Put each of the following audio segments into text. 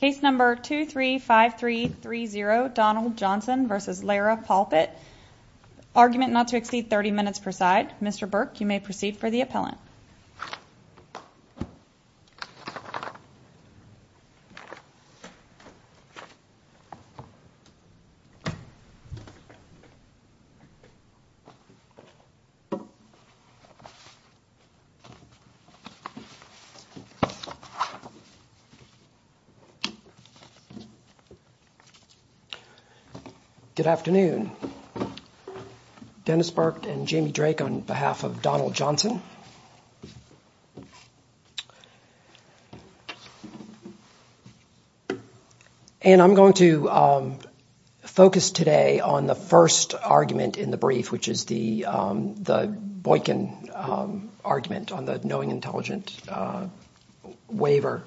case number two three five three three zero Donald Johnson versus Lara Palpit argument not to exceed 30 minutes per side mr. Burke you may proceed for the appellant good afternoon Dennis Burke and Jamie Drake on behalf of Donald Johnson and I'm going to focus today on the first argument in the brief which is the the Boykin argument on the knowing intelligent waiver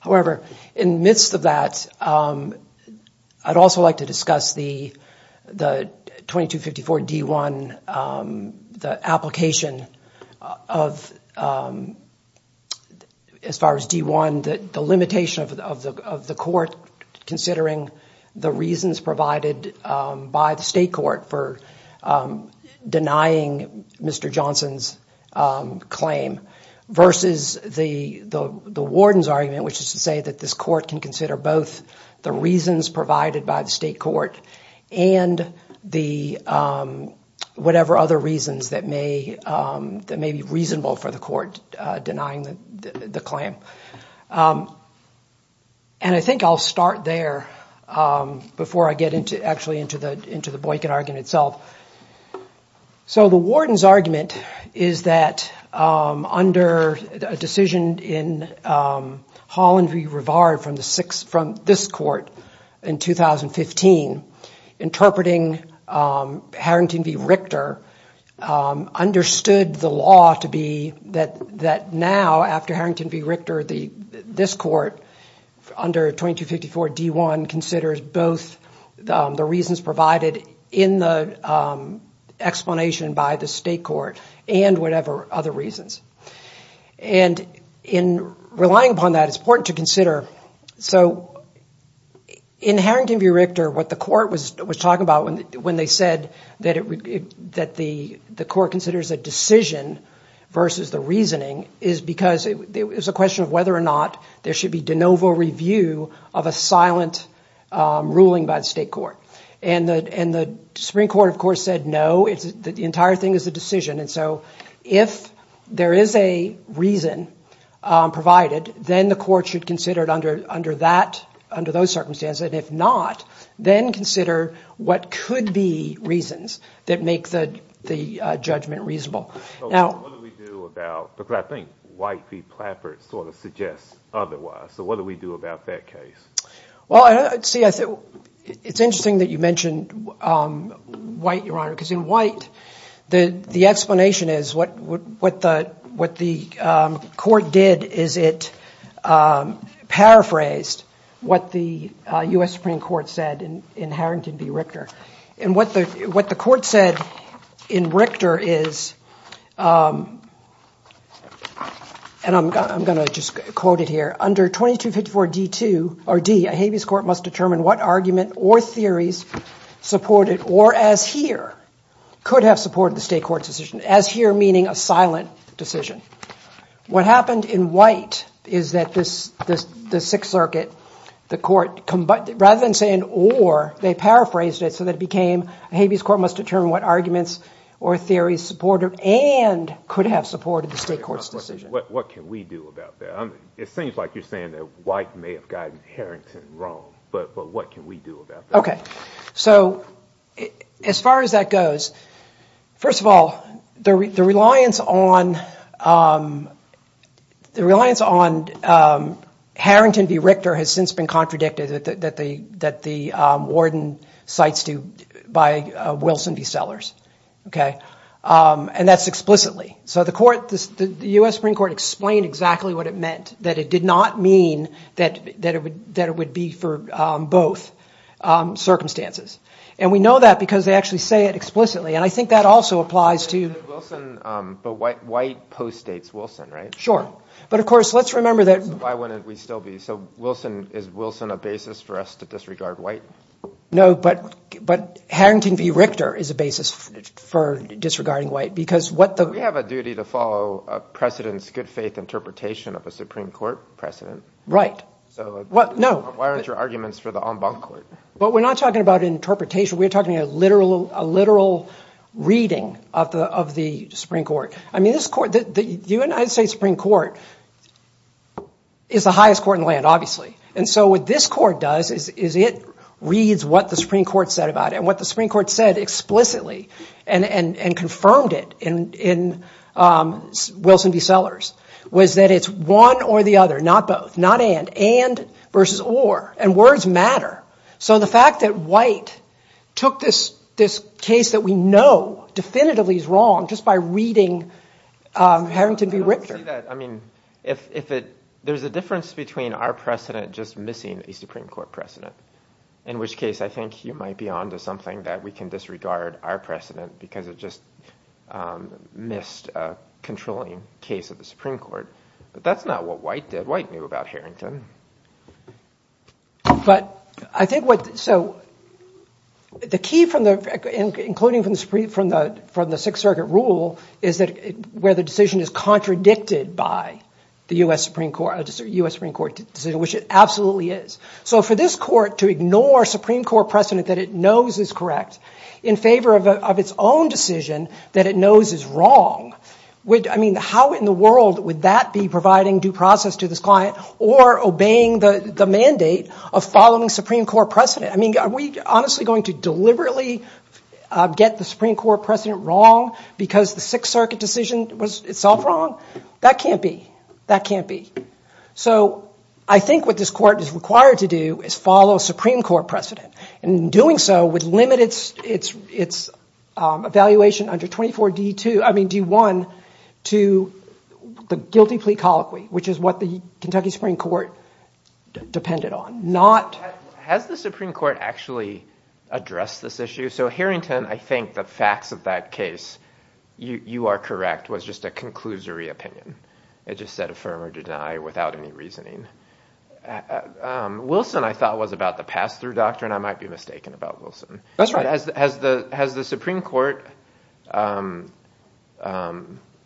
however in midst of that I'd also like to discuss the the 2254 d1 the application of as far as d1 that the limitation of the court considering the reasons provided by the denying mr. Johnson's claim versus the the warden's argument which is to say that this court can consider both the reasons provided by the state court and the whatever other reasons that may that may be reasonable for the court denying the claim and I think I'll start there before I get into actually into the Boykin argument itself so the warden's argument is that under a decision in Holland v. Rivard from the six from this court in 2015 interpreting Harrington v. Richter understood the law to be that that now after Harrington v. Richter the this court under 2254 d1 considers both the reasons provided in the explanation by the state court and whatever other reasons and in relying upon that it's important to consider so in Harrington v. Richter what the court was was talking about when when they said that it would get that the the court considers a decision versus the reasoning is because it was a question of whether or not there should be de novo review of a silent ruling by the state court and the and the Supreme Court of course said no it's the entire thing is the decision and so if there is a reason provided then the court should consider it under under that under those circumstances if not then consider what could be reasons that make the the judgment reasonable now because I think White v. Plattford sort of suggests otherwise so what do we do about that case well I'd see I said it's interesting that you mentioned white your honor because in white the the explanation is what would what the what the court did is it paraphrased what the US Supreme Court said in Harrington v. Richter and what the what the court said in Richter is and I'm gonna just quote it here under 2254 D2 or D a habeas court must determine what argument or theories supported or as here could have supported the state court's decision as here meaning a silent decision what happened in white is that this the Sixth Circuit the court rather than saying or they paraphrased it so that it became a habeas court must determine what arguments or theories supported and could have supported the state court's decision what can we do about that I mean it seems like you're saying that white may have gotten Harrington wrong but but what can we do about that okay so as far as that goes first of all the reliance on the reliance on Harrington v Richter has since been contradicted that the that the warden cites to by Wilson v Sellers okay and that's explicitly so the court this the US Supreme Court explained exactly what it meant that it did not mean that that it would that it would be for both circumstances and we know that because they actually say it explicitly and I think that also applies to but white post states Wilson right sure but of course let's remember that why wouldn't we still be so Wilson is Wilson a basis for us to disregard white no but but Harrington v Richter is a basis for disregarding white because what the we have a duty to follow precedents good-faith interpretation of a Supreme Court precedent right so what no why aren't your arguments for the en banc court but we're not talking about interpretation we're talking a literal a literal reading of the of the Supreme Court I mean this court that the United States Supreme Court is the highest court in land obviously and so what this court does is it reads what the Supreme Court said about it and what the Supreme Court said explicitly and and and confirmed it in in Wilson v Sellers was that it's one or the other not both not and and versus or and words matter so the fact that white took this this case that we know definitively is wrong just by reading Harrington v Richter I mean if it there's a difference between our precedent just missing a Supreme Court precedent in which case I think you might be on to something that we can disregard our precedent because it just missed a controlling case of the Supreme Court but that's not what white did about Harrington but I think what so the key from the including from the Supreme from the from the Sixth Circuit rule is that where the decision is contradicted by the US Supreme Court just a US Supreme Court decision which it absolutely is so for this court to ignore Supreme Court precedent that it knows is correct in favor of its own decision that it knows is wrong which I mean how in the world would that be providing due process to this client or obeying the mandate of following Supreme Court precedent I mean are we honestly going to deliberately get the Supreme Court precedent wrong because the Sixth Circuit decision was itself wrong that can't be that can't be so I think what this court is required to do is follow Supreme Court precedent and doing so would limit its its its evaluation under 24 d2 I mean d1 to the guilty plea colloquy which is what the Kentucky Supreme Court depended on not has the Supreme Court actually addressed this issue so Harrington I think the facts of that case you are correct was just a conclusory opinion it just said affirm or deny without any reasoning Wilson I thought was about the pass-through doctrine I might be mistaken about Wilson that's right as the has the has the Supreme Court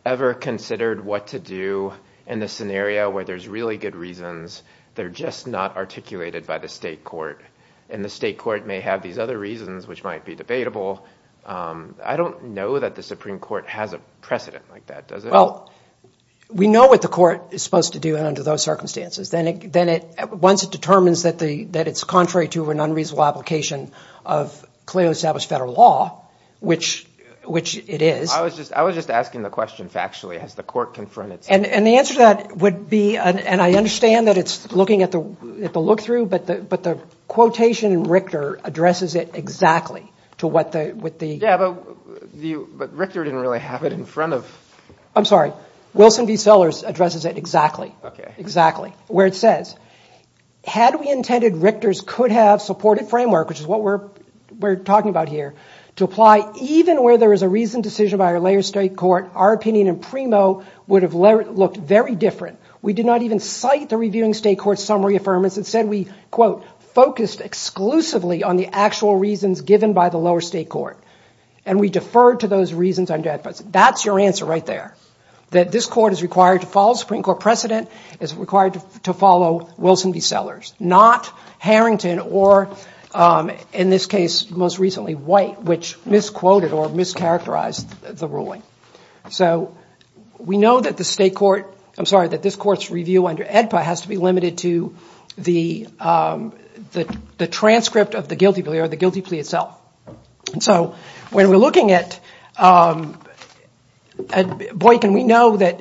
ever considered what to do in the scenario where there's really good reasons they're just not articulated by the state court and the state court may have these other reasons which might be debatable I don't know that the Supreme Court has a precedent like that does it well we know what the court is supposed to do and under those circumstances then it then it once it determines that the that it's contrary to an unreasonable application of clearly established federal law which which it is I was just I was just asking the question factually has the court confronted and and the answer that would be and I understand that it's looking at the at the look-through but the but the quotation and Richter addresses it exactly to what the with the yeah but the but Richter didn't really have it in front of I'm sorry Wilson v Sellers addresses it exactly exactly where it says had we intended Richter's could have supported framework which is what we're we're talking about here to apply even where there is a reason decision by our layer state court our opinion and primo would have looked very different we did not even cite the reviewing state court summary affirmance and said we quote focused exclusively on the actual reasons given by the lower state court and we deferred to those reasons I'm that's your answer right there that this court is required to follow Supreme Court precedent is required to follow Wilson v Sellers not Harrington or in this case most recently white which misquoted or mischaracterized the ruling so we know that the state court I'm sorry that this court's review under EDPA has to be limited to the the transcript of the guilty plea or the boy can we know that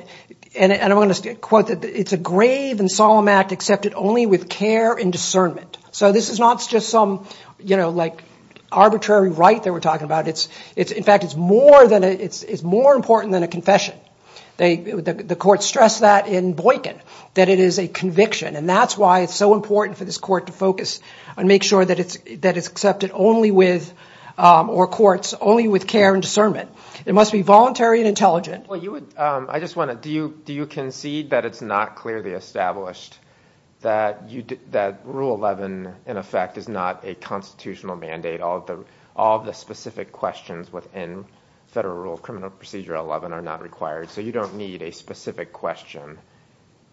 and I want to quote that it's a grave and solemn act accepted only with care and discernment so this is not just some you know like arbitrary right that we're talking about it's it's in fact it's more than it's it's more important than a confession they the court stressed that in Boykin that it is a conviction and that's why it's so important for this court to focus and make sure that it's that it's accepted only with or courts only with care and discernment it must be voluntary and intelligent well you would I just want to do you do you concede that it's not clearly established that you did that rule 11 in effect is not a constitutional mandate although all the specific questions within federal rule of criminal procedure 11 are not required so you don't need a specific question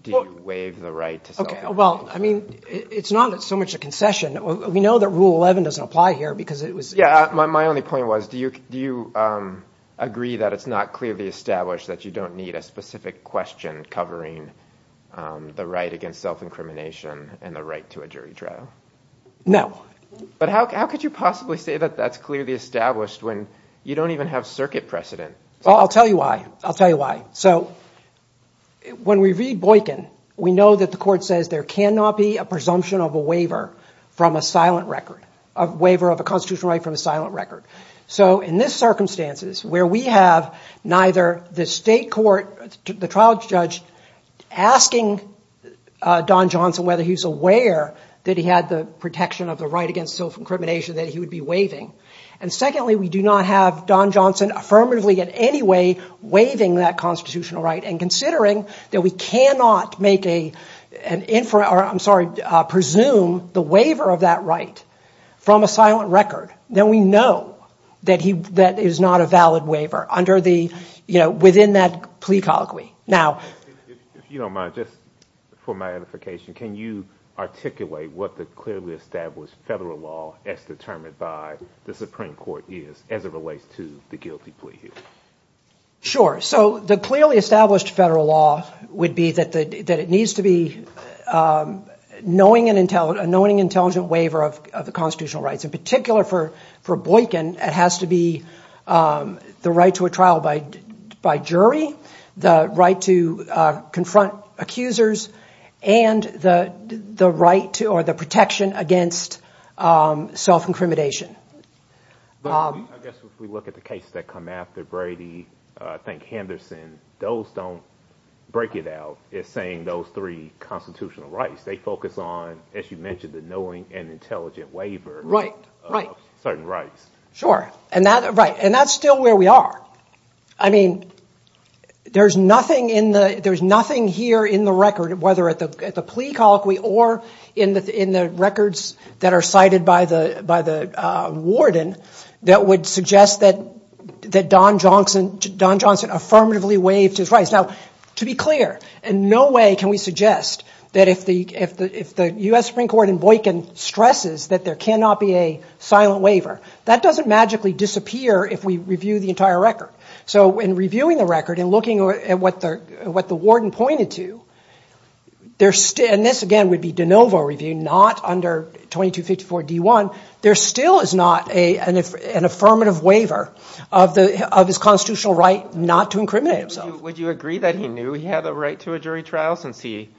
do you waive the right okay well I mean it's not it's so much a concession we know that rule 11 doesn't apply here because it was yeah my only point was do you do you agree that it's not clearly established that you don't need a specific question covering the right against self-incrimination and the right to a jury trial no but how could you possibly say that that's clearly established when you don't even have circuit precedent well I'll tell you why I'll tell you why so when we read Boykin we know that the court says there cannot be a presumption of a waiver from a silent record of waiver of a constitutional right from a silent record so in this circumstances where we have neither the state court the trial judge asking Don Johnson whether he's aware that he had the protection of the right against self-incrimination that he would be waiving and secondly we do not have Don Johnson affirmatively in any way waiving that constitutional right and considering that we cannot make a an infrared or I'm sorry presume the waiver of that right from a silent record then we know that he that is not a valid waiver under the you know within that plea colloquy now you don't mind just for my edification can you articulate what the clearly established federal law as determined by the Supreme Court is as it relates to the guilty plea here sure so the clearly established federal law would be that that it needs to be knowing an intelligent knowing intelligent waiver of the constitutional rights in particular for for Boykin it has to be the right to a trial by by jury the right to confront accusers and the the right to or the protection against self-incrimination look at the cases that come after Brady I think Henderson those don't break it out it's saying those three constitutional rights they focus on as you mentioned the knowing and intelligent waiver right right certain rights sure and that right and that's still where we are I mean there's nothing in the there's nothing here in the record whether at the plea colloquy or in the in the records that are cited by the by the warden that would suggest that that Don Johnson Don Johnson affirmatively waived his rights now to be clear and no way can we suggest that if the if the if the US Supreme Court and Boykin stresses that there cannot be a silent waiver that doesn't magically disappear if we review the entire record so when reviewing the record and looking at what the what the warden pointed to there's still and this again would be de novo review not under 2254 d1 there still is not a and if an affirmative waiver of the of his constitutional right not to incriminate himself would you agree that he knew he had a right to a jury trial since he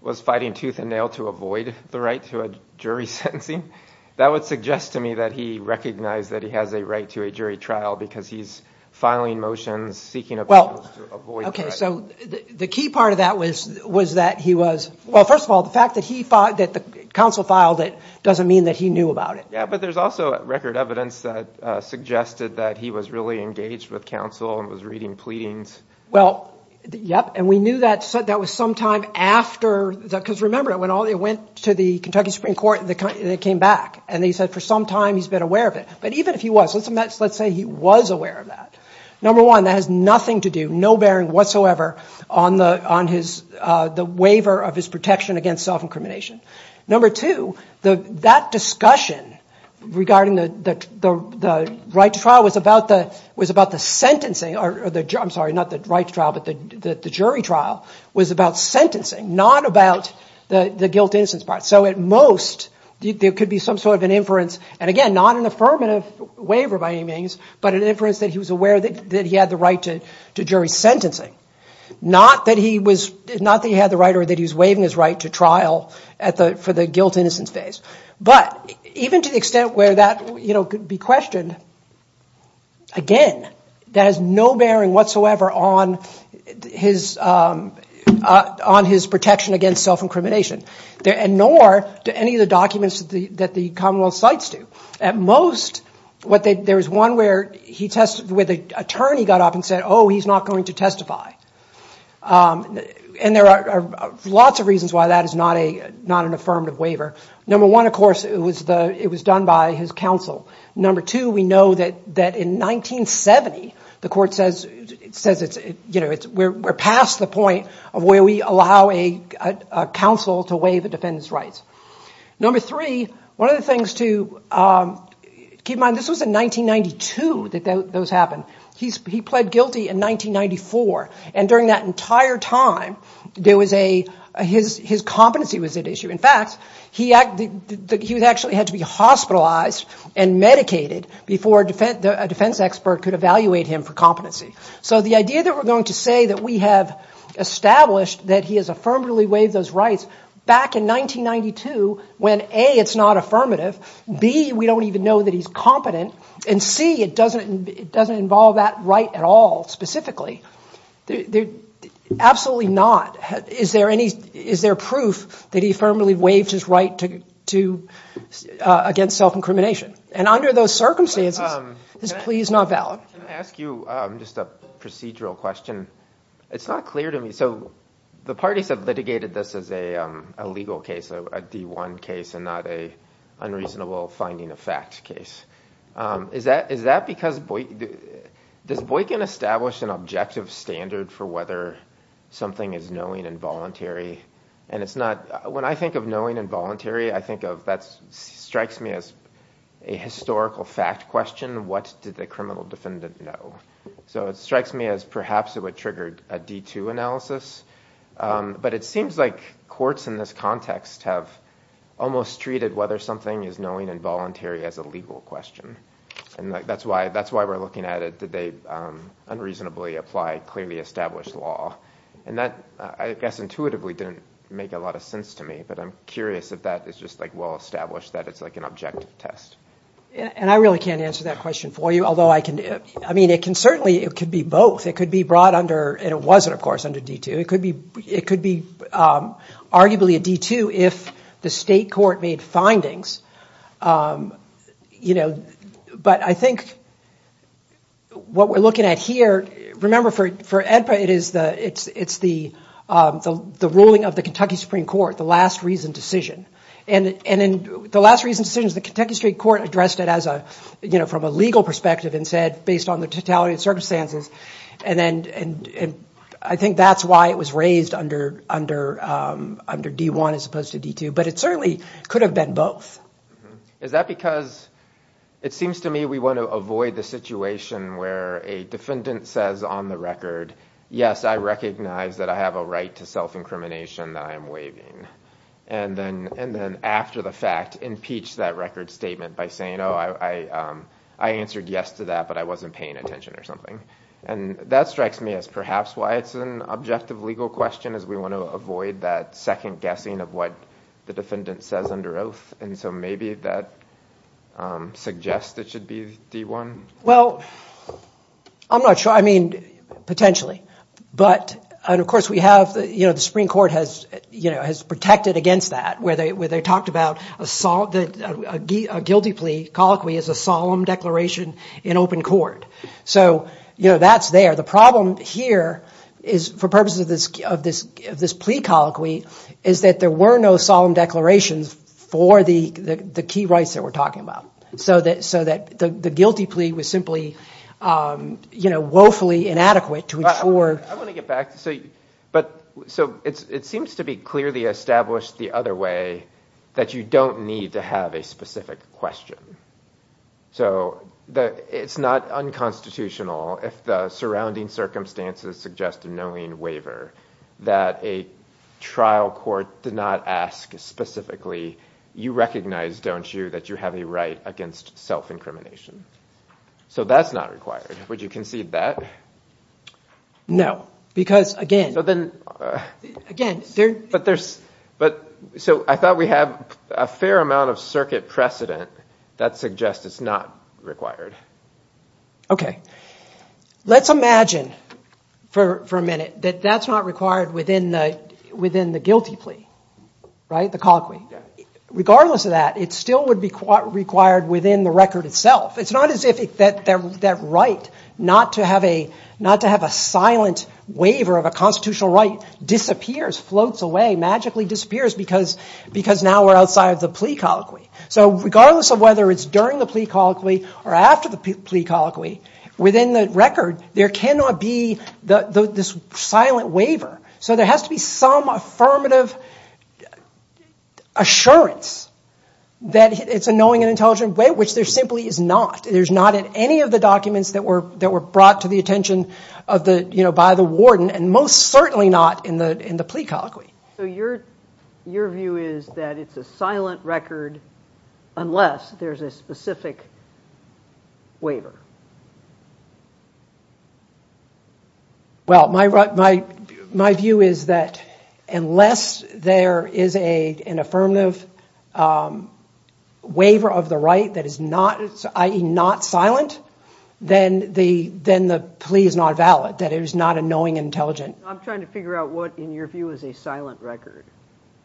was fighting tooth and nail to avoid the right to a jury sentencing that would suggest to me that he recognized that he has a right to a jury trial because he's filing motions seeking a well okay so the key part of that was was that he was well first of all the fact that he thought that the council filed it doesn't mean that he knew about it yeah but there's also record evidence that suggested that he was really engaged with counsel and was reading pleadings well yep and we knew that said that was sometime after that because remember it when all they went to the Kentucky Supreme Court and the country that came back and they said for some time he's been aware of it but even if he was listen that's let's say he was aware of that number one that has nothing to do no bearing whatsoever on the on his the waiver of his protection against self number two the that discussion regarding the the right trial was about the was about the sentencing or the jump sorry not the right trial but the jury trial was about sentencing not about the the guilt instance part so at most there could be some sort of an inference and again not an affirmative waiver by any means but an inference that he was aware that he had the right to to jury sentencing not that he was not that he had the right or that he was waiving his right to trial at the for the guilt innocence phase but even to the extent where that you know could be questioned again that has no bearing whatsoever on his on his protection against self-incrimination there and nor do any of the documents that the that the Commonwealth sites do at most what they there was one where he tested with a turn he got up and said oh he's not going to testify and there are lots of reasons why that is not a not an affirmative waiver number one of course it was the it was done by his counsel number two we know that that in 1970 the court says it says it's you know it's we're past the point of where we allow a counsel to weigh the defendants rights number three one of the things to keep in mind this was in 1992 that those happen he's he pled guilty in 1994 and during that entire time there was a his his competency was at issue in fact he acted he was actually had to be hospitalized and medicated before a defense expert could evaluate him for competency so the idea that we're going to say that we have established that he is affirmatively waive those rights back in 1992 when a it's not affirmative B we don't even know that he's competent and C it doesn't it doesn't involve that right at all specifically they're absolutely not is there any is there proof that he firmly waived his right to to against self-incrimination and under those circumstances this plea is not valid ask you just a procedural question it's not clear to me so the parties have litigated this as a legal case a d1 case and not a unreasonable finding a fact case is that is that because boy does boy can establish an objective standard for whether something is knowing involuntary and it's not when I think of knowing involuntary I think of that strikes me as a historical fact question what did the criminal defendant know so it strikes me as perhaps it would triggered a d2 analysis but it seems like courts in this context have almost treated whether something is knowing involuntary as a legal question and that's why that's why we're looking at it did they unreasonably apply clearly established law and that I guess intuitively didn't make a lot of sense to me but I'm curious if that is just like well established that it's like an objective test and I really can't answer that question for you although I can I mean it can certainly it could be both it could be brought under and it wasn't of course under d2 it could be it could be arguably a d2 if the state court made findings you know but I think what we're looking at here remember for for EDPA it is the it's it's the the ruling of the Kentucky Supreme Court the last reason decision and and in the last reason decisions the Kentucky State Court addressed it as a you know from a legal perspective and said based on the totality of circumstances and then and I think that's why it was raised under under under d1 as opposed to d2 but it certainly could have been both is that because it seems to me we want to avoid the situation where a defendant says on the record yes I recognize that I have a right to self-incrimination that I am waiving and then and then after the fact impeach that record statement by saying oh I I answered yes to that but I wasn't paying attention or something and that strikes me as perhaps why it's an objective legal question as we want to avoid that second guessing of what the defendant says under oath and so maybe that suggests it should be d1 well I'm not sure I mean potentially but and of course we have the you know the Supreme Court has you know has protected against that where they were they talked about a guilty plea colloquy is a solemn declaration in open court so you know that's there the problem here is for purposes of this of this this plea colloquy is that there were no solemn declarations for the the key rights that we're talking about so that so that the guilty plea was simply you know woefully inadequate to ensure but so it's it seems to be clearly established the other way that you don't need to have a specific question so that it's not unconstitutional if the surrounding circumstances suggest a knowing waiver that a trial court did not ask specifically you recognize don't you that you have a right against self-incrimination so that's not would you concede that no because again but then again there but there's but so I thought we have a fair amount of circuit precedent that suggests it's not required okay let's imagine for a minute that that's not required within the within the guilty plea right the colloquy regardless of that it still would be quite required within the record itself it's not as if it that that right not to have a not to have a silent waiver of a constitutional right disappears floats away magically disappears because because now we're outside of the plea colloquy so regardless of whether it's during the plea colloquy or after the plea colloquy within the record there cannot be the this silent waiver so there has to be some affirmative assurance that it's a knowing and intelligent way which there simply is not there's not at any of the documents that were that were brought to the attention of the you know by the warden and most certainly not in the in the plea colloquy so your your view is that it's a silent record unless there's a specific waiver well my right my my view is that unless there is a an affirmative waiver of the right that is not it's ie not silent then the then the plea is not valid that it is not a knowing intelligent I'm trying to figure out what in your view is a silent record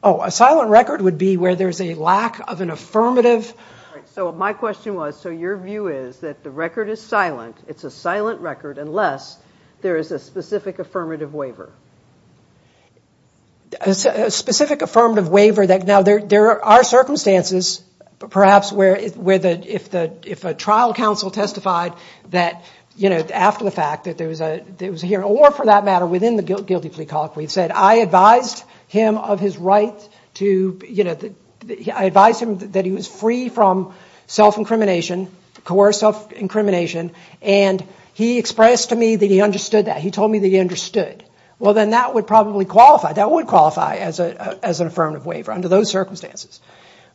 oh a silent record would be where there's a lack of an affirmative so my question was so your view is that the record is silent it's a silent record unless there is a specific affirmative waiver a specific affirmative waiver that now there there are circumstances perhaps where is where the if the if a trial counsel testified that you know after the fact that there was a there was a hearing or for that matter within the guilty plea colloquy said I advised him of his right to you know I advised him that he was free from self incrimination coercive incrimination and he expressed to me that he understood that he told me that he understood well then that would probably qualify that would qualify as a as an affirmative waiver under those circumstances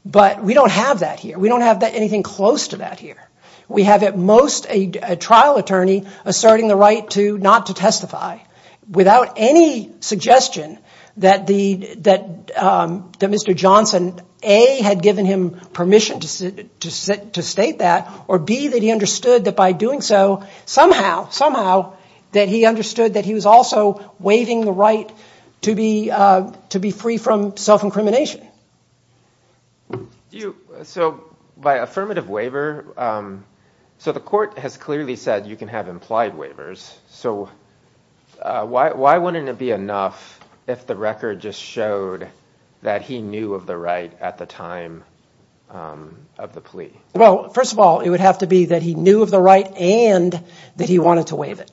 but we don't have that here we don't have that anything close to that here we have at most a trial attorney asserting the right to not to testify without any suggestion that the that that mr. Johnson a had given him permission to sit to sit to state that or be that he understood that by doing so somehow that he understood that he was also waiving the right to be to be free from self-incrimination you so by affirmative waiver so the court has clearly said you can have implied waivers so why wouldn't it be enough if the record just showed that he knew of the right at the time of the plea well first of all it would have to be that he knew of the right and that he wanted to waive it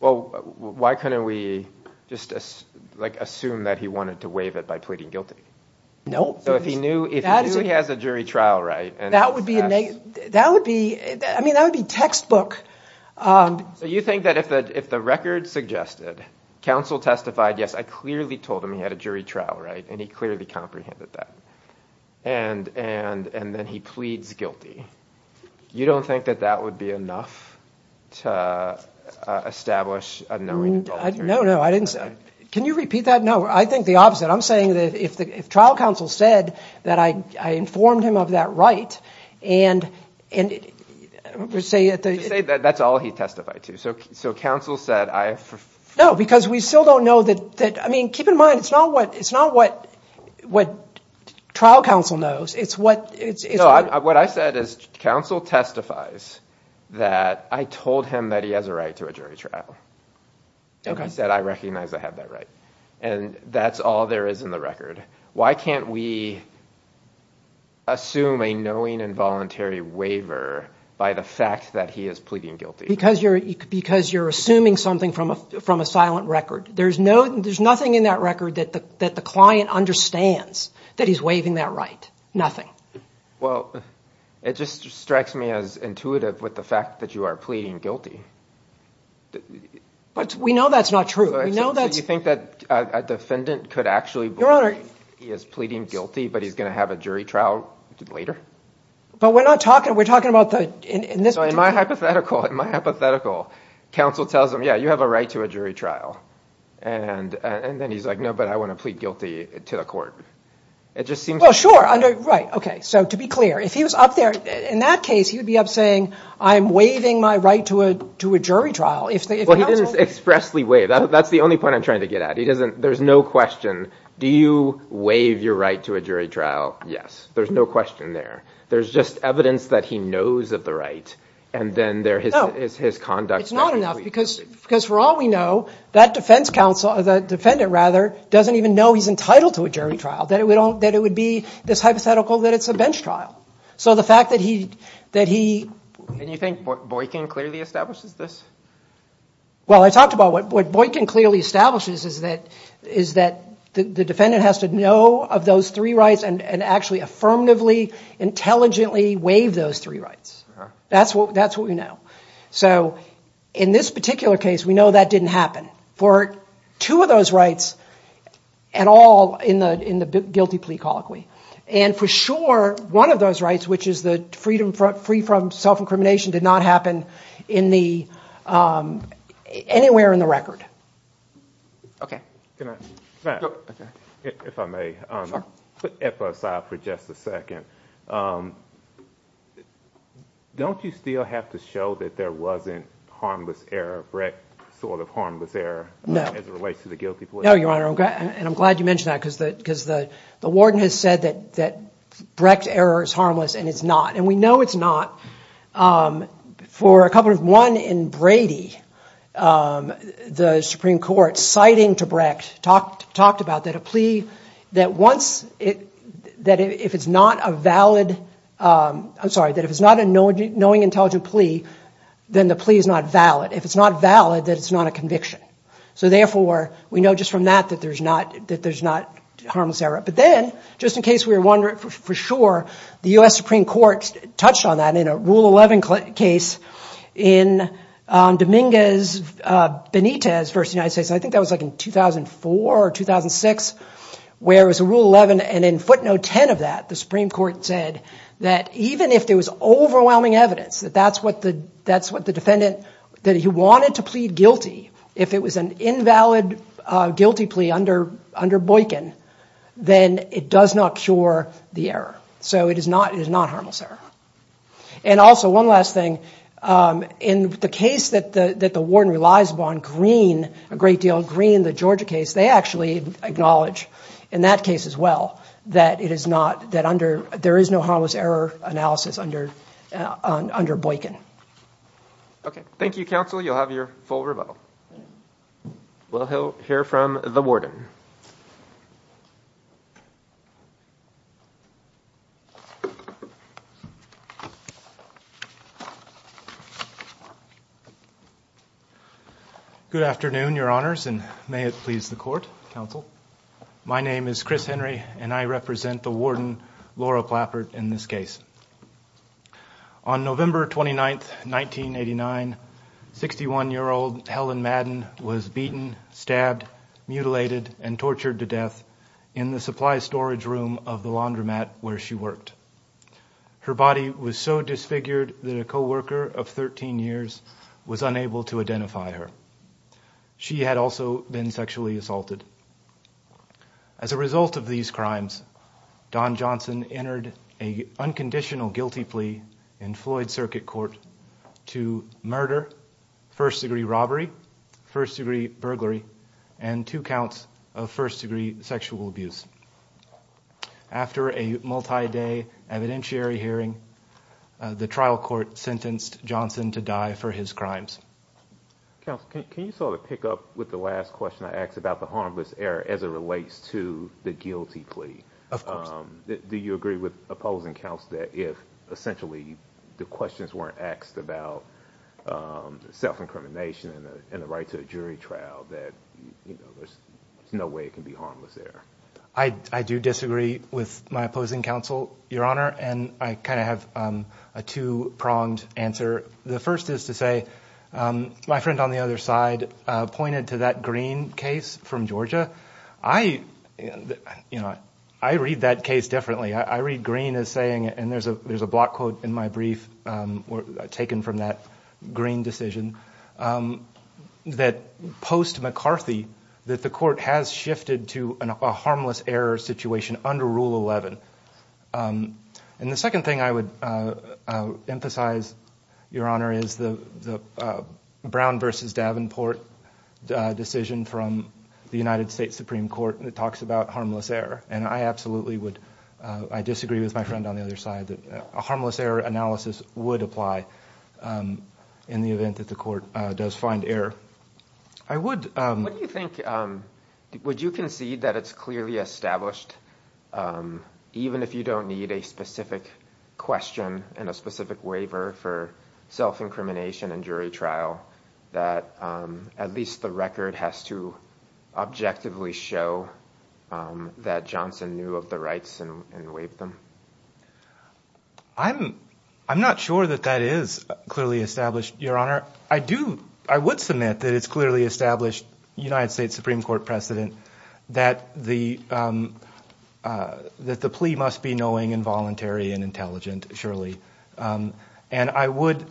well why couldn't we just like assume that he wanted to waive it by pleading guilty no so if he knew if he has a jury trial right and that would be a negative that would be I mean that would be textbook so you think that if the if the record suggested counsel testified yes I clearly told him he had a jury trial right and he clearly comprehended that and and and then he pleads guilty you don't think that that would be enough to establish no no I didn't say can you repeat that no I think the opposite I'm saying that if the trial counsel said that I informed him of that right and and say that that's all he testified to so so counsel said I know because we still don't know that that I mean keep in mind it's not what it's not what what trial counsel knows it's what it's what I said is counsel testifies that I told him that he has a right to a jury trial okay said I recognize I have that right and that's all there is in the record why can't we assume a knowing involuntary waiver by the fact that he is pleading guilty because you're because you're assuming something from a from a silent record there's no there's nothing in that record that the that the understands that he's waiving that right nothing well it just strikes me as intuitive with the fact that you are pleading guilty but we know that's not true I know that you think that a defendant could actually your honor he is pleading guilty but he's gonna have a jury trial later but we're not talking we're talking about the in this my hypothetical my hypothetical counsel tells him yeah you have a right to a jury trial and and then he's like no but I want to plead guilty to the court it just seems well sure under right okay so to be clear if he was up there in that case he would be up saying I'm waiving my right to a to a jury trial if they expressly way that's the only point I'm trying to get at he doesn't there's no question do you waive your right to a jury trial yes there's no question there there's just evidence that he knows of the right and then there is his conduct it's not enough because because for all we know that defense counsel or the defendant rather doesn't even know he's entitled to a jury trial that we don't that it would be this hypothetical that it's a bench trial so the fact that he that he and you think Boykin clearly establishes this well I talked about what Boykin clearly establishes is that is that the defendant has to know of those three rights and and actually affirmatively intelligently waive those three rights that's what that's what we know so in this particular case we know that didn't happen for two of those rights at all in the in the guilty plea colloquy and for sure one of those rights which is the freedom front free from self-incrimination did not happen in the anywhere in the record okay if I may put F aside for just a second don't you still have to show that there wasn't harmless error Brecht sort of harmless error no as it relates to the guilty plea no your honor okay and I'm glad you mentioned that because that because the the warden has said that that Brecht error is harmless and it's not and we know it's not for a couple of one in Brady the Supreme Court citing to Brecht talked talked about that a plea that once it that if it's not a valid I'm sorry that if it's not a no no intelligent plea then the plea is not valid if it's not valid that it's not a conviction so therefore we know just from that that there's not that there's not harmless error but then just in case we were wondering for sure the US Supreme Court touched on that in a rule 11 case in Dominguez Benitez versus United States I think that was like in 2004 or 2006 where it was a rule 11 and in footnote 10 of that the Supreme Court said that even if there was overwhelming evidence that that's what the that's what the defendant that he wanted to plead guilty if it was an invalid guilty plea under under Boykin then it does not cure the error so it is not is not harmless error and also one last thing in the case that the that the warden relies upon green a great deal green the Georgia case they actually acknowledge in that case as well that it not that under there is no harmless error analysis under under Boykin okay thank you counsel you'll have your full rebuttal well he'll hear from the warden good afternoon your honors and may it please the court counsel my name is Henry and I represent the warden Laura Plappert in this case on November 29th 1989 61 year old Helen Madden was beaten stabbed mutilated and tortured to death in the supply storage room of the laundromat where she worked her body was so disfigured that a co-worker of 13 years was unable to identify her she had also been sexually assaulted as a result of these crimes Don Johnson entered a unconditional guilty plea in Floyd circuit court to murder first degree robbery first-degree burglary and two counts of first-degree sexual abuse after a multi-day evidentiary hearing the trial court sentenced Johnson to die for his crimes can you sort of pick up with the last question I asked about the harmless error as it relates to the guilty plea of course do you agree with opposing counts that if essentially the questions weren't asked about self incrimination and the right to a jury trial that there's no way it can be harmless there I I do disagree with my opposing counsel your honor and I kind of have a two-pronged answer the first is to say my friend on the other side pointed to that green case from Georgia I you know I read that case differently I read green as saying and there's a there's a block quote in my brief were taken from that green decision that post McCarthy that the court has shifted to a harmless error situation under Rule 11 and the second thing I would emphasize your honor is the Brown versus Davenport decision from the United States Supreme Court and it talks about harmless error and I absolutely would I disagree with my friend on the other side that a harmless error analysis would apply in the event that the court does find error I would what do you think would you concede that it's clearly established even if you don't need a specific question and a specific waiver for self incrimination and jury trial that at least the record has to objectively show that Johnson knew of the rights and waive them I'm I'm not sure that that is clearly established your honor I do I would submit that it's clearly established United States Supreme Court precedent that the that the plea must be knowing involuntary and intelligent surely and I would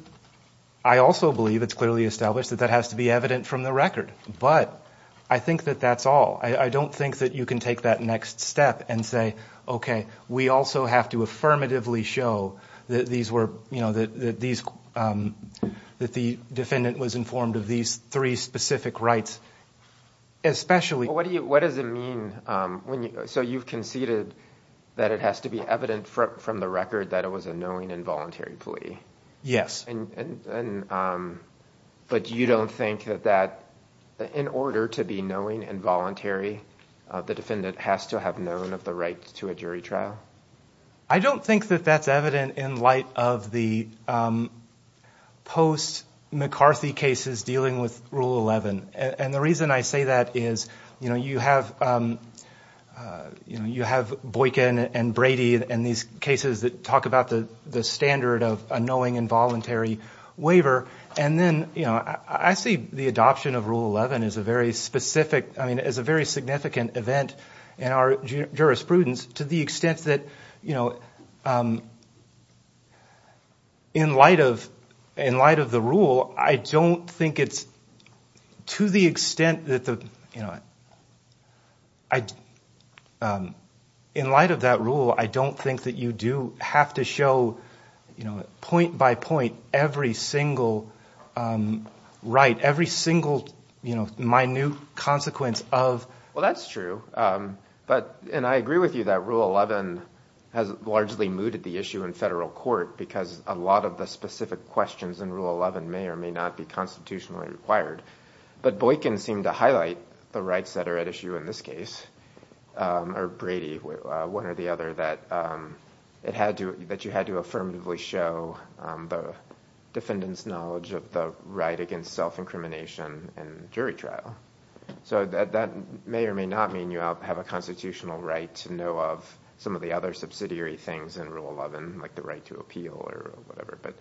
I also believe it's clearly established that that has to be evident from the record but I think that that's all I don't think that you can take that next step and say okay we also have to affirmatively show that these were you know that these that the defendant was informed of these three specific rights especially what do you what does it mean when you so you've conceded that it has to be evident from the record that it was a knowing involuntary plea yes and but you don't think that that in order to be knowing involuntary the defendant has to have known of the right to a jury trial I don't think that that's evident in light of the post McCarthy cases dealing with rule 11 and the reason I say that is you know you have you have Boykin and Brady and these cases that talk about the the standard of a knowing involuntary waiver and then you know I see the adoption of rule 11 is a very specific I mean as a very significant event in our jurisprudence to the extent that you know in light of in light of the rule I don't think it's to the extent that the you know I in light of that rule I don't think that you do have to show you know point by point every single right every single you know minute consequence of well that's true but and I agree with you that rule 11 has largely mooted the issue in federal court because a lot of the specific questions in rule 11 may or may not be constitutionally required but Boykin seemed to highlight the rights that are at issue in this case or Brady one or the other that it had to that you had to affirmatively show the defendants knowledge of the right against self-incrimination and jury trial so that that may or may not mean you have a constitutional right to know of some of the other subsidiary things in rule 11 like the right to appeal or whatever but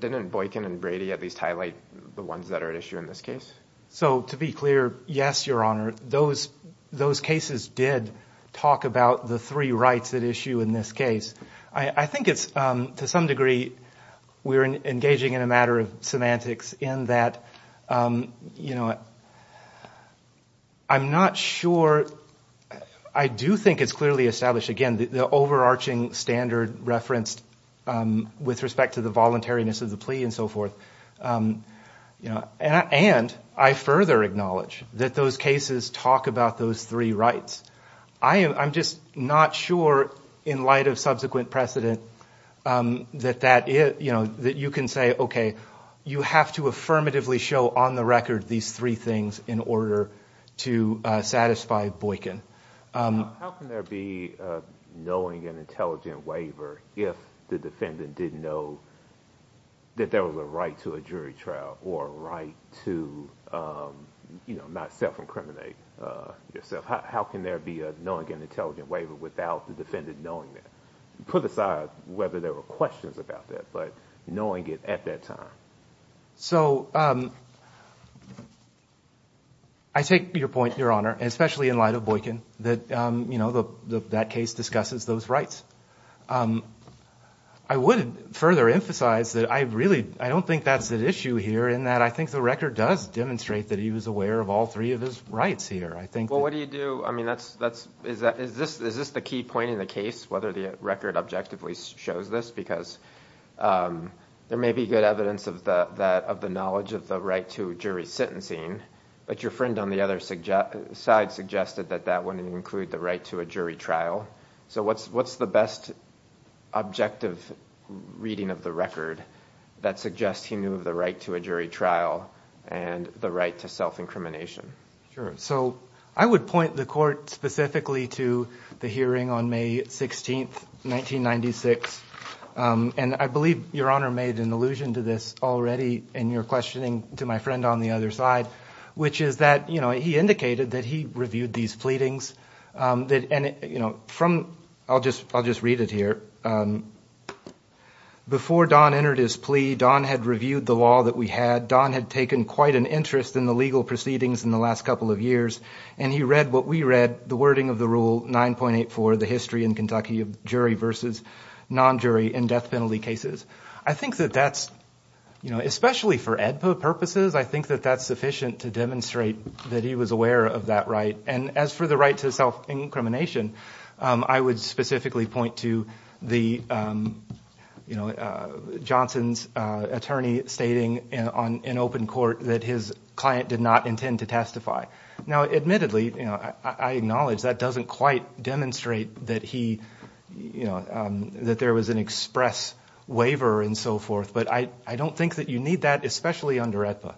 didn't Boykin and Brady at least highlight the ones that are at issue in this case so to be clear yes your honor those those cases did talk about the three rights at issue in this case I think it's to some degree we're engaging in a matter of semantics in that you know I'm not sure I do think it's clearly established again the overarching standard referenced with respect to the voluntariness of the plea and so forth you know and I further acknowledge that those cases talk about those three rights I am I'm just not sure in light of subsequent precedent that that is you know that you can say okay you have to affirmatively show on the record these three things in order to satisfy Boykin knowing an intelligent waiver if the defendant didn't know that there was a right to a jury trial or right to you know not self-incriminate yourself how can there be a knowing an intelligent waiver without the defendant knowing that put aside whether there were questions about that but knowing it at that time so I take your point your honor especially in light of Boykin that you know the that case discusses those rights I wouldn't further emphasize that I really I don't think that's an issue here in that I think the record does demonstrate that he was aware of all three of his rights here I think well what do you do I mean that's that's is that is this is this the key point in the case whether the record objectively shows this because there may be good evidence of the that of the knowledge of the right to jury sentencing but your friend on the other side suggested that that wouldn't include the right to a jury trial so what's what's the best objective reading of the record that suggests he knew the right to a jury trial and the right to self incrimination so I would point the court specifically to the hearing on May 16th 1996 and I believe your honor made an allusion to this already and you're questioning to my friend on the other side which is that you know he indicated that he reviewed these pleadings that and you know from I'll just I'll just read it here before Don entered his plea Don had reviewed the law that we had Don had taken quite an interest in the legal proceedings in the last couple of years and he read what we read the wording of the rule 9.8 for the history in Kentucky of jury versus non-jury and death penalty cases I think that that's you know especially for EDPA purposes I think that that's sufficient to demonstrate that he was aware of that right and as for the right to self incrimination I would specifically point to the you know Johnson's attorney stating and on an open court that his client did not intend to testify now admittedly you know I acknowledge that doesn't quite demonstrate that he you know that there was an express waiver and so forth but I I don't think that you need that especially under EDPA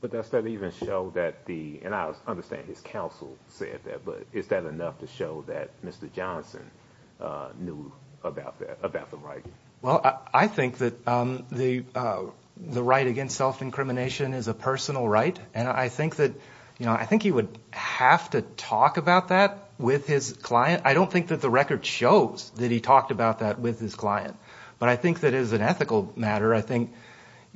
but that's that even show that the and I understand his counsel said that but is that enough to show that mr. Johnson knew about that about the right well I think that the the right against self incrimination is a personal right and I think that you know I think he would have to talk about that with his client I don't think that the record shows that he talked about that with his client but I think that is an ethical matter I think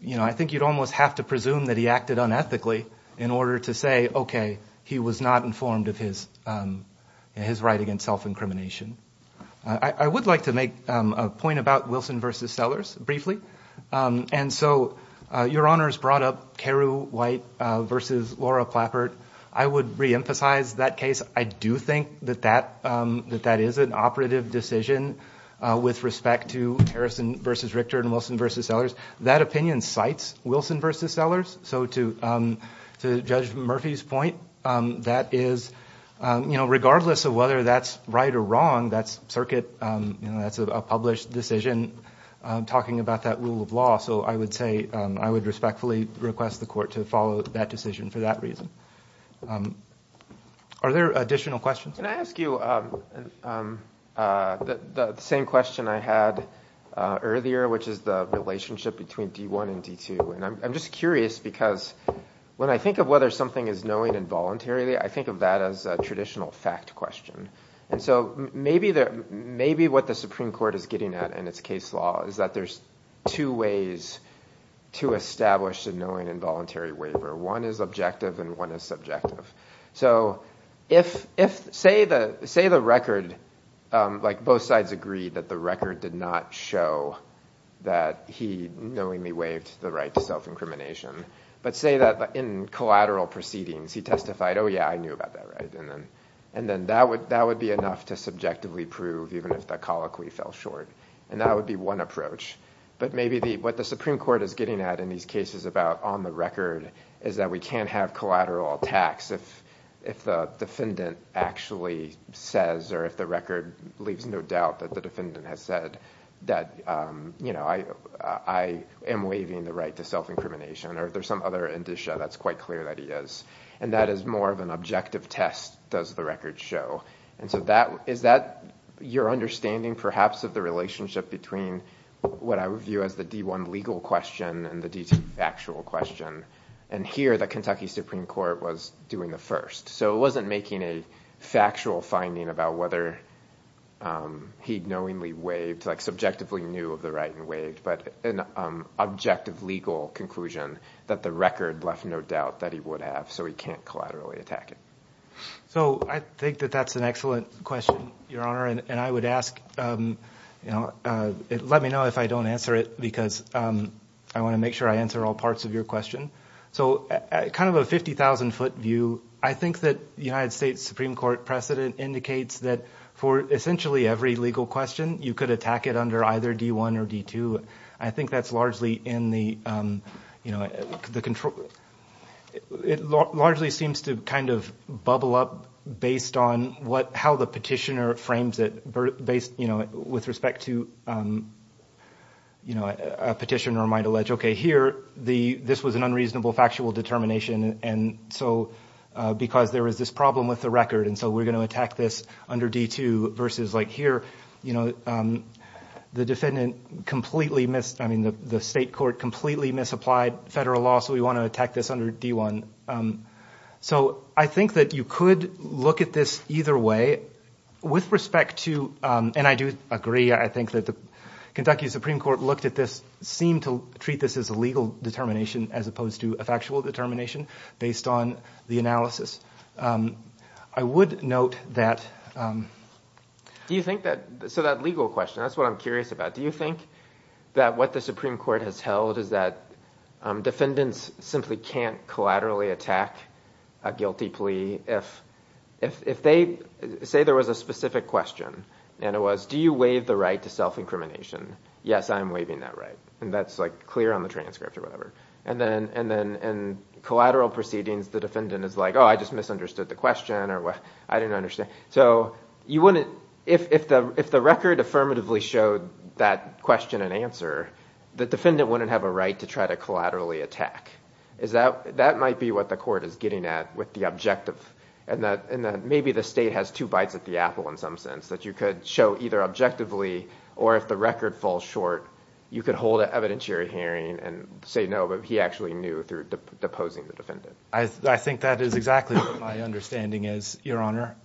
you know I think you'd almost have to presume that he acted unethically in order to say okay he was not informed of his his right against self incrimination I would like to make a point about Wilson versus Sellers briefly and so your honors brought up Karu white versus Laura Plappert I would reemphasize that case I do think that that that that is an operative decision with respect to versus Richter and Wilson versus Sellers that opinion cites Wilson versus Sellers so to to judge Murphy's point that is you know regardless of whether that's right or wrong that's circuit you know that's a published decision talking about that rule of law so I would say I would respectfully request the court to follow that decision for that reason are there additional questions can I ask you the same question I had earlier which is the relationship between d1 and d2 and I'm just curious because when I think of whether something is knowing involuntarily I think of that as a traditional fact question and so maybe there may be what the Supreme Court is getting at in its case law is that there's two ways to establish the knowing involuntary waiver one is objective and one is subjective so if if say the say the record like both sides agree that the record did not show that he knowingly waived the right to self-incrimination but say that in collateral proceedings he testified oh yeah I knew about that right and then and then that would that would be enough to subjectively prove even if that colloquy fell short and that would be one approach but maybe the what the Supreme Court is getting at in these cases about on the record is that we can't have collateral attacks if if the defendant actually says or if the record leaves no doubt that the defendant has said that you know I am waiving the right to self-incrimination or if there's some other indicia that's quite clear that he is and that is more of an objective test does the record show and so that is that your understanding perhaps of the relationship between what I would view as the d1 legal question and the detail actual question and here the Kentucky Supreme Court was doing the first so it wasn't making a factual finding about whether he'd knowingly waived like subjectively knew of the right and waived but an objective legal conclusion that the record left no doubt that he would have so he can't collaterally attack it so I think that that's an excellent question your honor and I would ask you know let me know if I don't answer it because I want to make sure I answer all parts of your question so kind of a 50,000 foot view I think that the United States Supreme Court precedent indicates that for essentially every legal question you could attack it under either d1 or d2 I think that's largely in the you know the control it largely seems to kind of bubble up based on what how the petitioner frames it based you know with respect to you know a petitioner might allege okay here the this was an unreasonable factual determination and so because there is this problem with the record and so we're going to attack this under d2 versus like here you know the defendant completely missed I mean the state court completely misapplied federal law so we attack this under d1 so I think that you could look at this either way with respect to and I do agree I think that the Kentucky Supreme Court looked at this seem to treat this as a legal determination as opposed to a factual determination based on the analysis I would note that do you think that so that legal question that's what I'm curious about do you think that what the Supreme Court has held is that defendants simply can't collaterally attack a guilty plea if if they say there was a specific question and it was do you waive the right to self-incrimination yes I'm waiving that right and that's like clear on the transcript or whatever and then and then and collateral proceedings the defendant is like oh I just misunderstood the question or what I didn't understand so you wouldn't if the if the record affirmatively showed that question and answer the defendant wouldn't have a right to try to collaterally attack is that that might be what the court is getting at with the objective and that and that maybe the state has two bites at the apple in some sense that you could show either objectively or if the record falls short you could hold it evidentiary hearing and say no but he actually knew through deposing the defendant I think that is exactly my understanding is your honor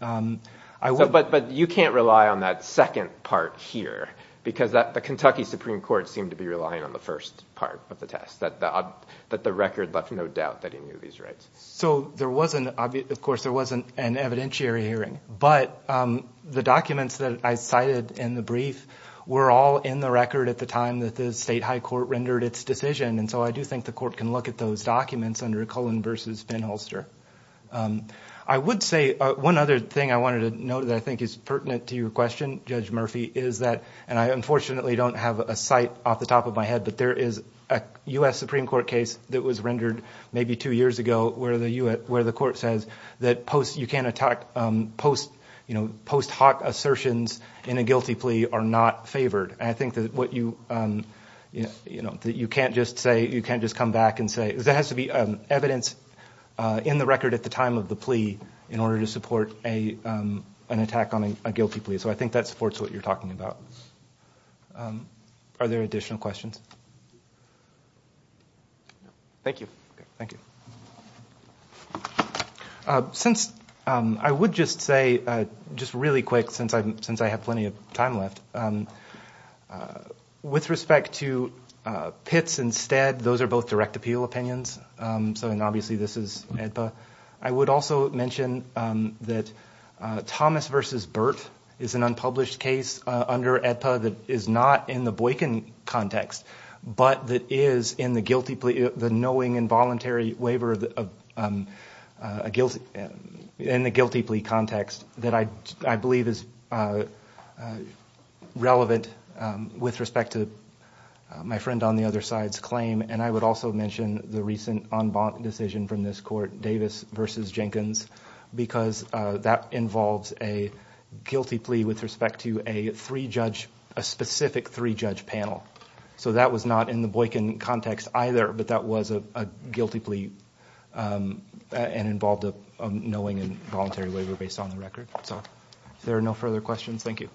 I will but but you can't rely on that second part here because that the Kentucky Supreme Court seemed to be relying on the first part of the test that that the record left no doubt that he knew these rights so there wasn't obvious of course there wasn't an evidentiary hearing but the documents that I cited in the brief were all in the record at the time that the state high court rendered its decision and so I do think the court can look at those documents under Cullen versus Finholster I would say one other thing I wanted to know that I think is pertinent to your question judge Murphy is that and I unfortunately don't have a site off the top of my head but there is a US Supreme Court case that was rendered maybe two years ago where the you at where the court says that post you can't attack post you know post hoc assertions in a guilty plea are not favored I think that what you you know that you can't just say you can't just come back and say there has to be evidence in the record at the time of the plea in order to support a an attack on a guilty plea so I think that supports what you're talking about are there additional questions thank you thank you since I would just say just really quick since I'm since I have plenty of time left with respect to pits instead those are both direct appeal opinions so and obviously this is Edpa I would also mention that Thomas versus Burt is an unpublished case under Edpa that is not in the Boykin context but that is in the guilty plea the knowing involuntary waiver a guilt in the guilty plea context that I believe is relevant with respect to my friend on the other side's claim and I would also mention the recent on bond decision from this court Davis versus Jenkins because that involves a guilty plea with respect to a three judge a specific three judge panel so that was not in the Boykin context either but that was a guilty plea and involved a knowing and voluntary waiver based on the record so there are no further questions thank you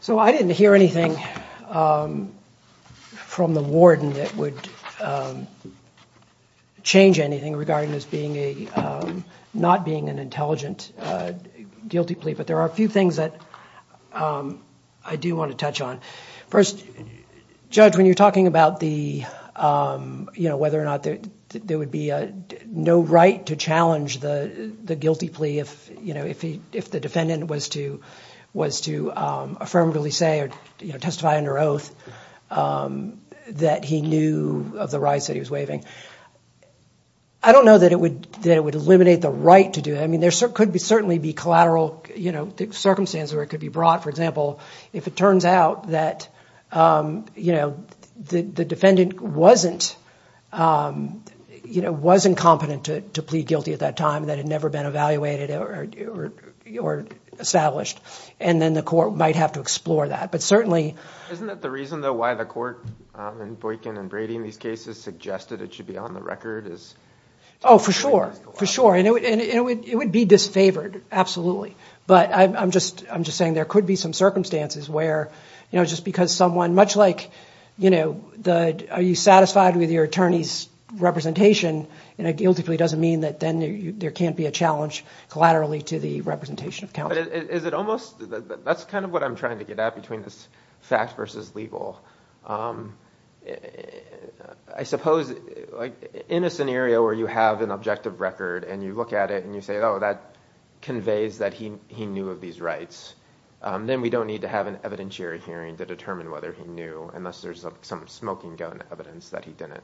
so I didn't hear anything from the warden that would change anything regarding this being a not being an intelligent guilty plea but there are a few things that I do want to touch on first judge when you're talking about the you know whether or not there would be a no right to challenge the guilty plea if you know if he if the defendant was to was to affirmatively say or testify under oath that he knew of the rights that he was waiving I don't know that it would that would eliminate the right to do I mean there could be certainly be collateral you know the circumstances where it could be brought for example if it turns out that you know the defendant wasn't you know was incompetent to plead guilty at that time that had never been evaluated or established and then the court might have to explore that but certainly isn't that the reason though why the court and Boykin and Brady in these cases suggested it should be on the record is oh for sure for sure I know it would be disfavored absolutely but I'm just I'm just saying there could be some circumstances where you know just because someone much like you know the are you satisfied with your attorneys representation and a guilty plea doesn't mean that then there can't be a challenge collaterally to the representation of count is it almost that's kind of what I'm trying to get out between this fact versus legal I suppose like in a scenario where you have an objective record and you look at it and you say oh that conveys that he he knew of these rights then we don't need to have an evidentiary hearing to determine whether he knew unless there's some smoking gun evidence that he did it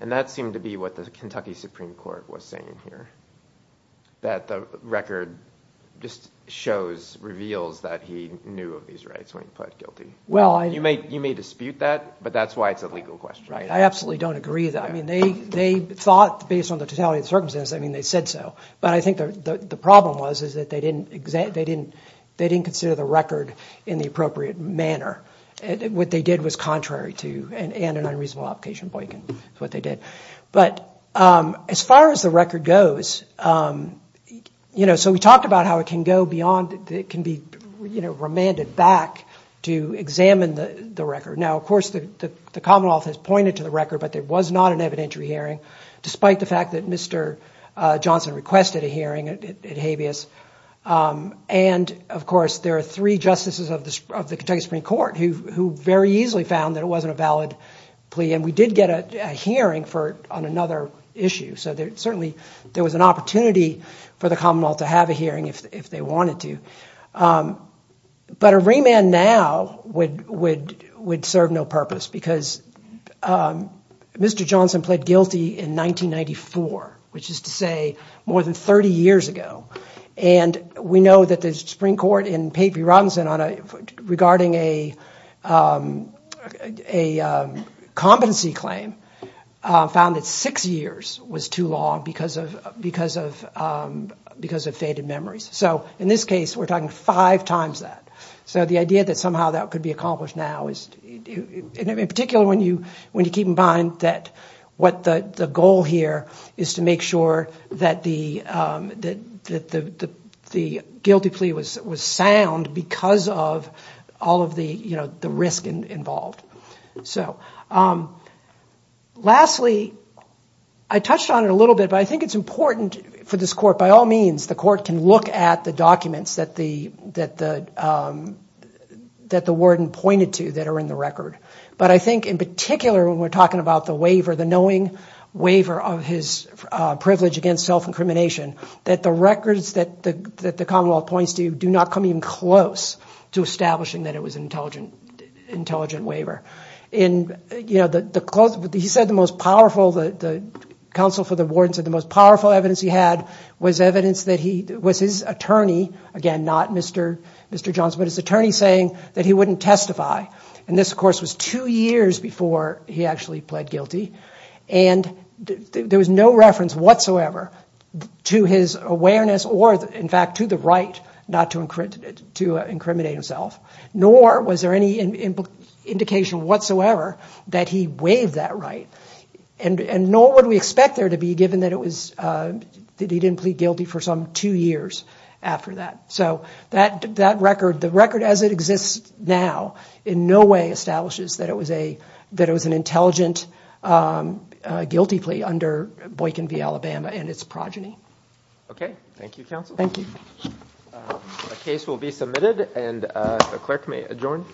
and that seemed to be what the Kentucky Supreme Court was saying here that the record just shows reveals that he knew of these rights when you put guilty well I you may you may dispute that but that's why it's a legal question right I mean they said so but I think the problem was is that they didn't exact they didn't they didn't consider the record in the appropriate manner what they did was contrary to and an unreasonable application boycott what they did but as far as the record goes you know so we talked about how it can go beyond it can be you know remanded back to examine the the record now of course the Commonwealth has pointed to the record but there was not an evidentiary hearing despite the fact that mr. Johnson requested a hearing at habeas and of course there are three justices of the Kentucky Supreme Court who very easily found that it wasn't a valid plea and we did get a hearing for on another issue so there certainly there was an opportunity for the Commonwealth to have a hearing if they wanted to but a remand now would would serve no purpose because mr. Johnson pled guilty in 1994 which is to say more than 30 years ago and we know that the Supreme Court in paper runs in on a regarding a a competency claim found that six years was too long because of because of because of faded memories so in this case we're talking five times that so the idea that somehow that could be accomplished now is in particular when you when you keep in mind that what the goal here is to make sure that the the guilty plea was was sound because of all of the you know the risk involved so lastly I touched on it a little bit but I think it's important for this court by all means the court can look at the documents that the that that the warden pointed to that are in the record but I think in particular when we're talking about the waiver the knowing waiver of his privilege against self-incrimination that the records that the that the Commonwealth points to do not come even close to establishing that it was an intelligent intelligent waiver in you know the close but he said the most powerful that the counsel for the warden said the most powerful evidence he had was evidence that he was his attorney again not mr. mr. Johnson but his attorney saying that he wouldn't testify and this of course was two years before he actually pled guilty and there was no reference whatsoever to his awareness or in fact to the right not to encrypt it to incriminate himself nor was there any indication whatsoever that he waived that right and and nor would we expect there to be given that it was that he didn't plead guilty for some two years after that so that that record the record as it exists now in no way establishes that it was a that it was an intelligent guilty plea under Boykin v. Alabama and its progeny okay thank you counsel thank you a case will be submitted and a clerk may adjourn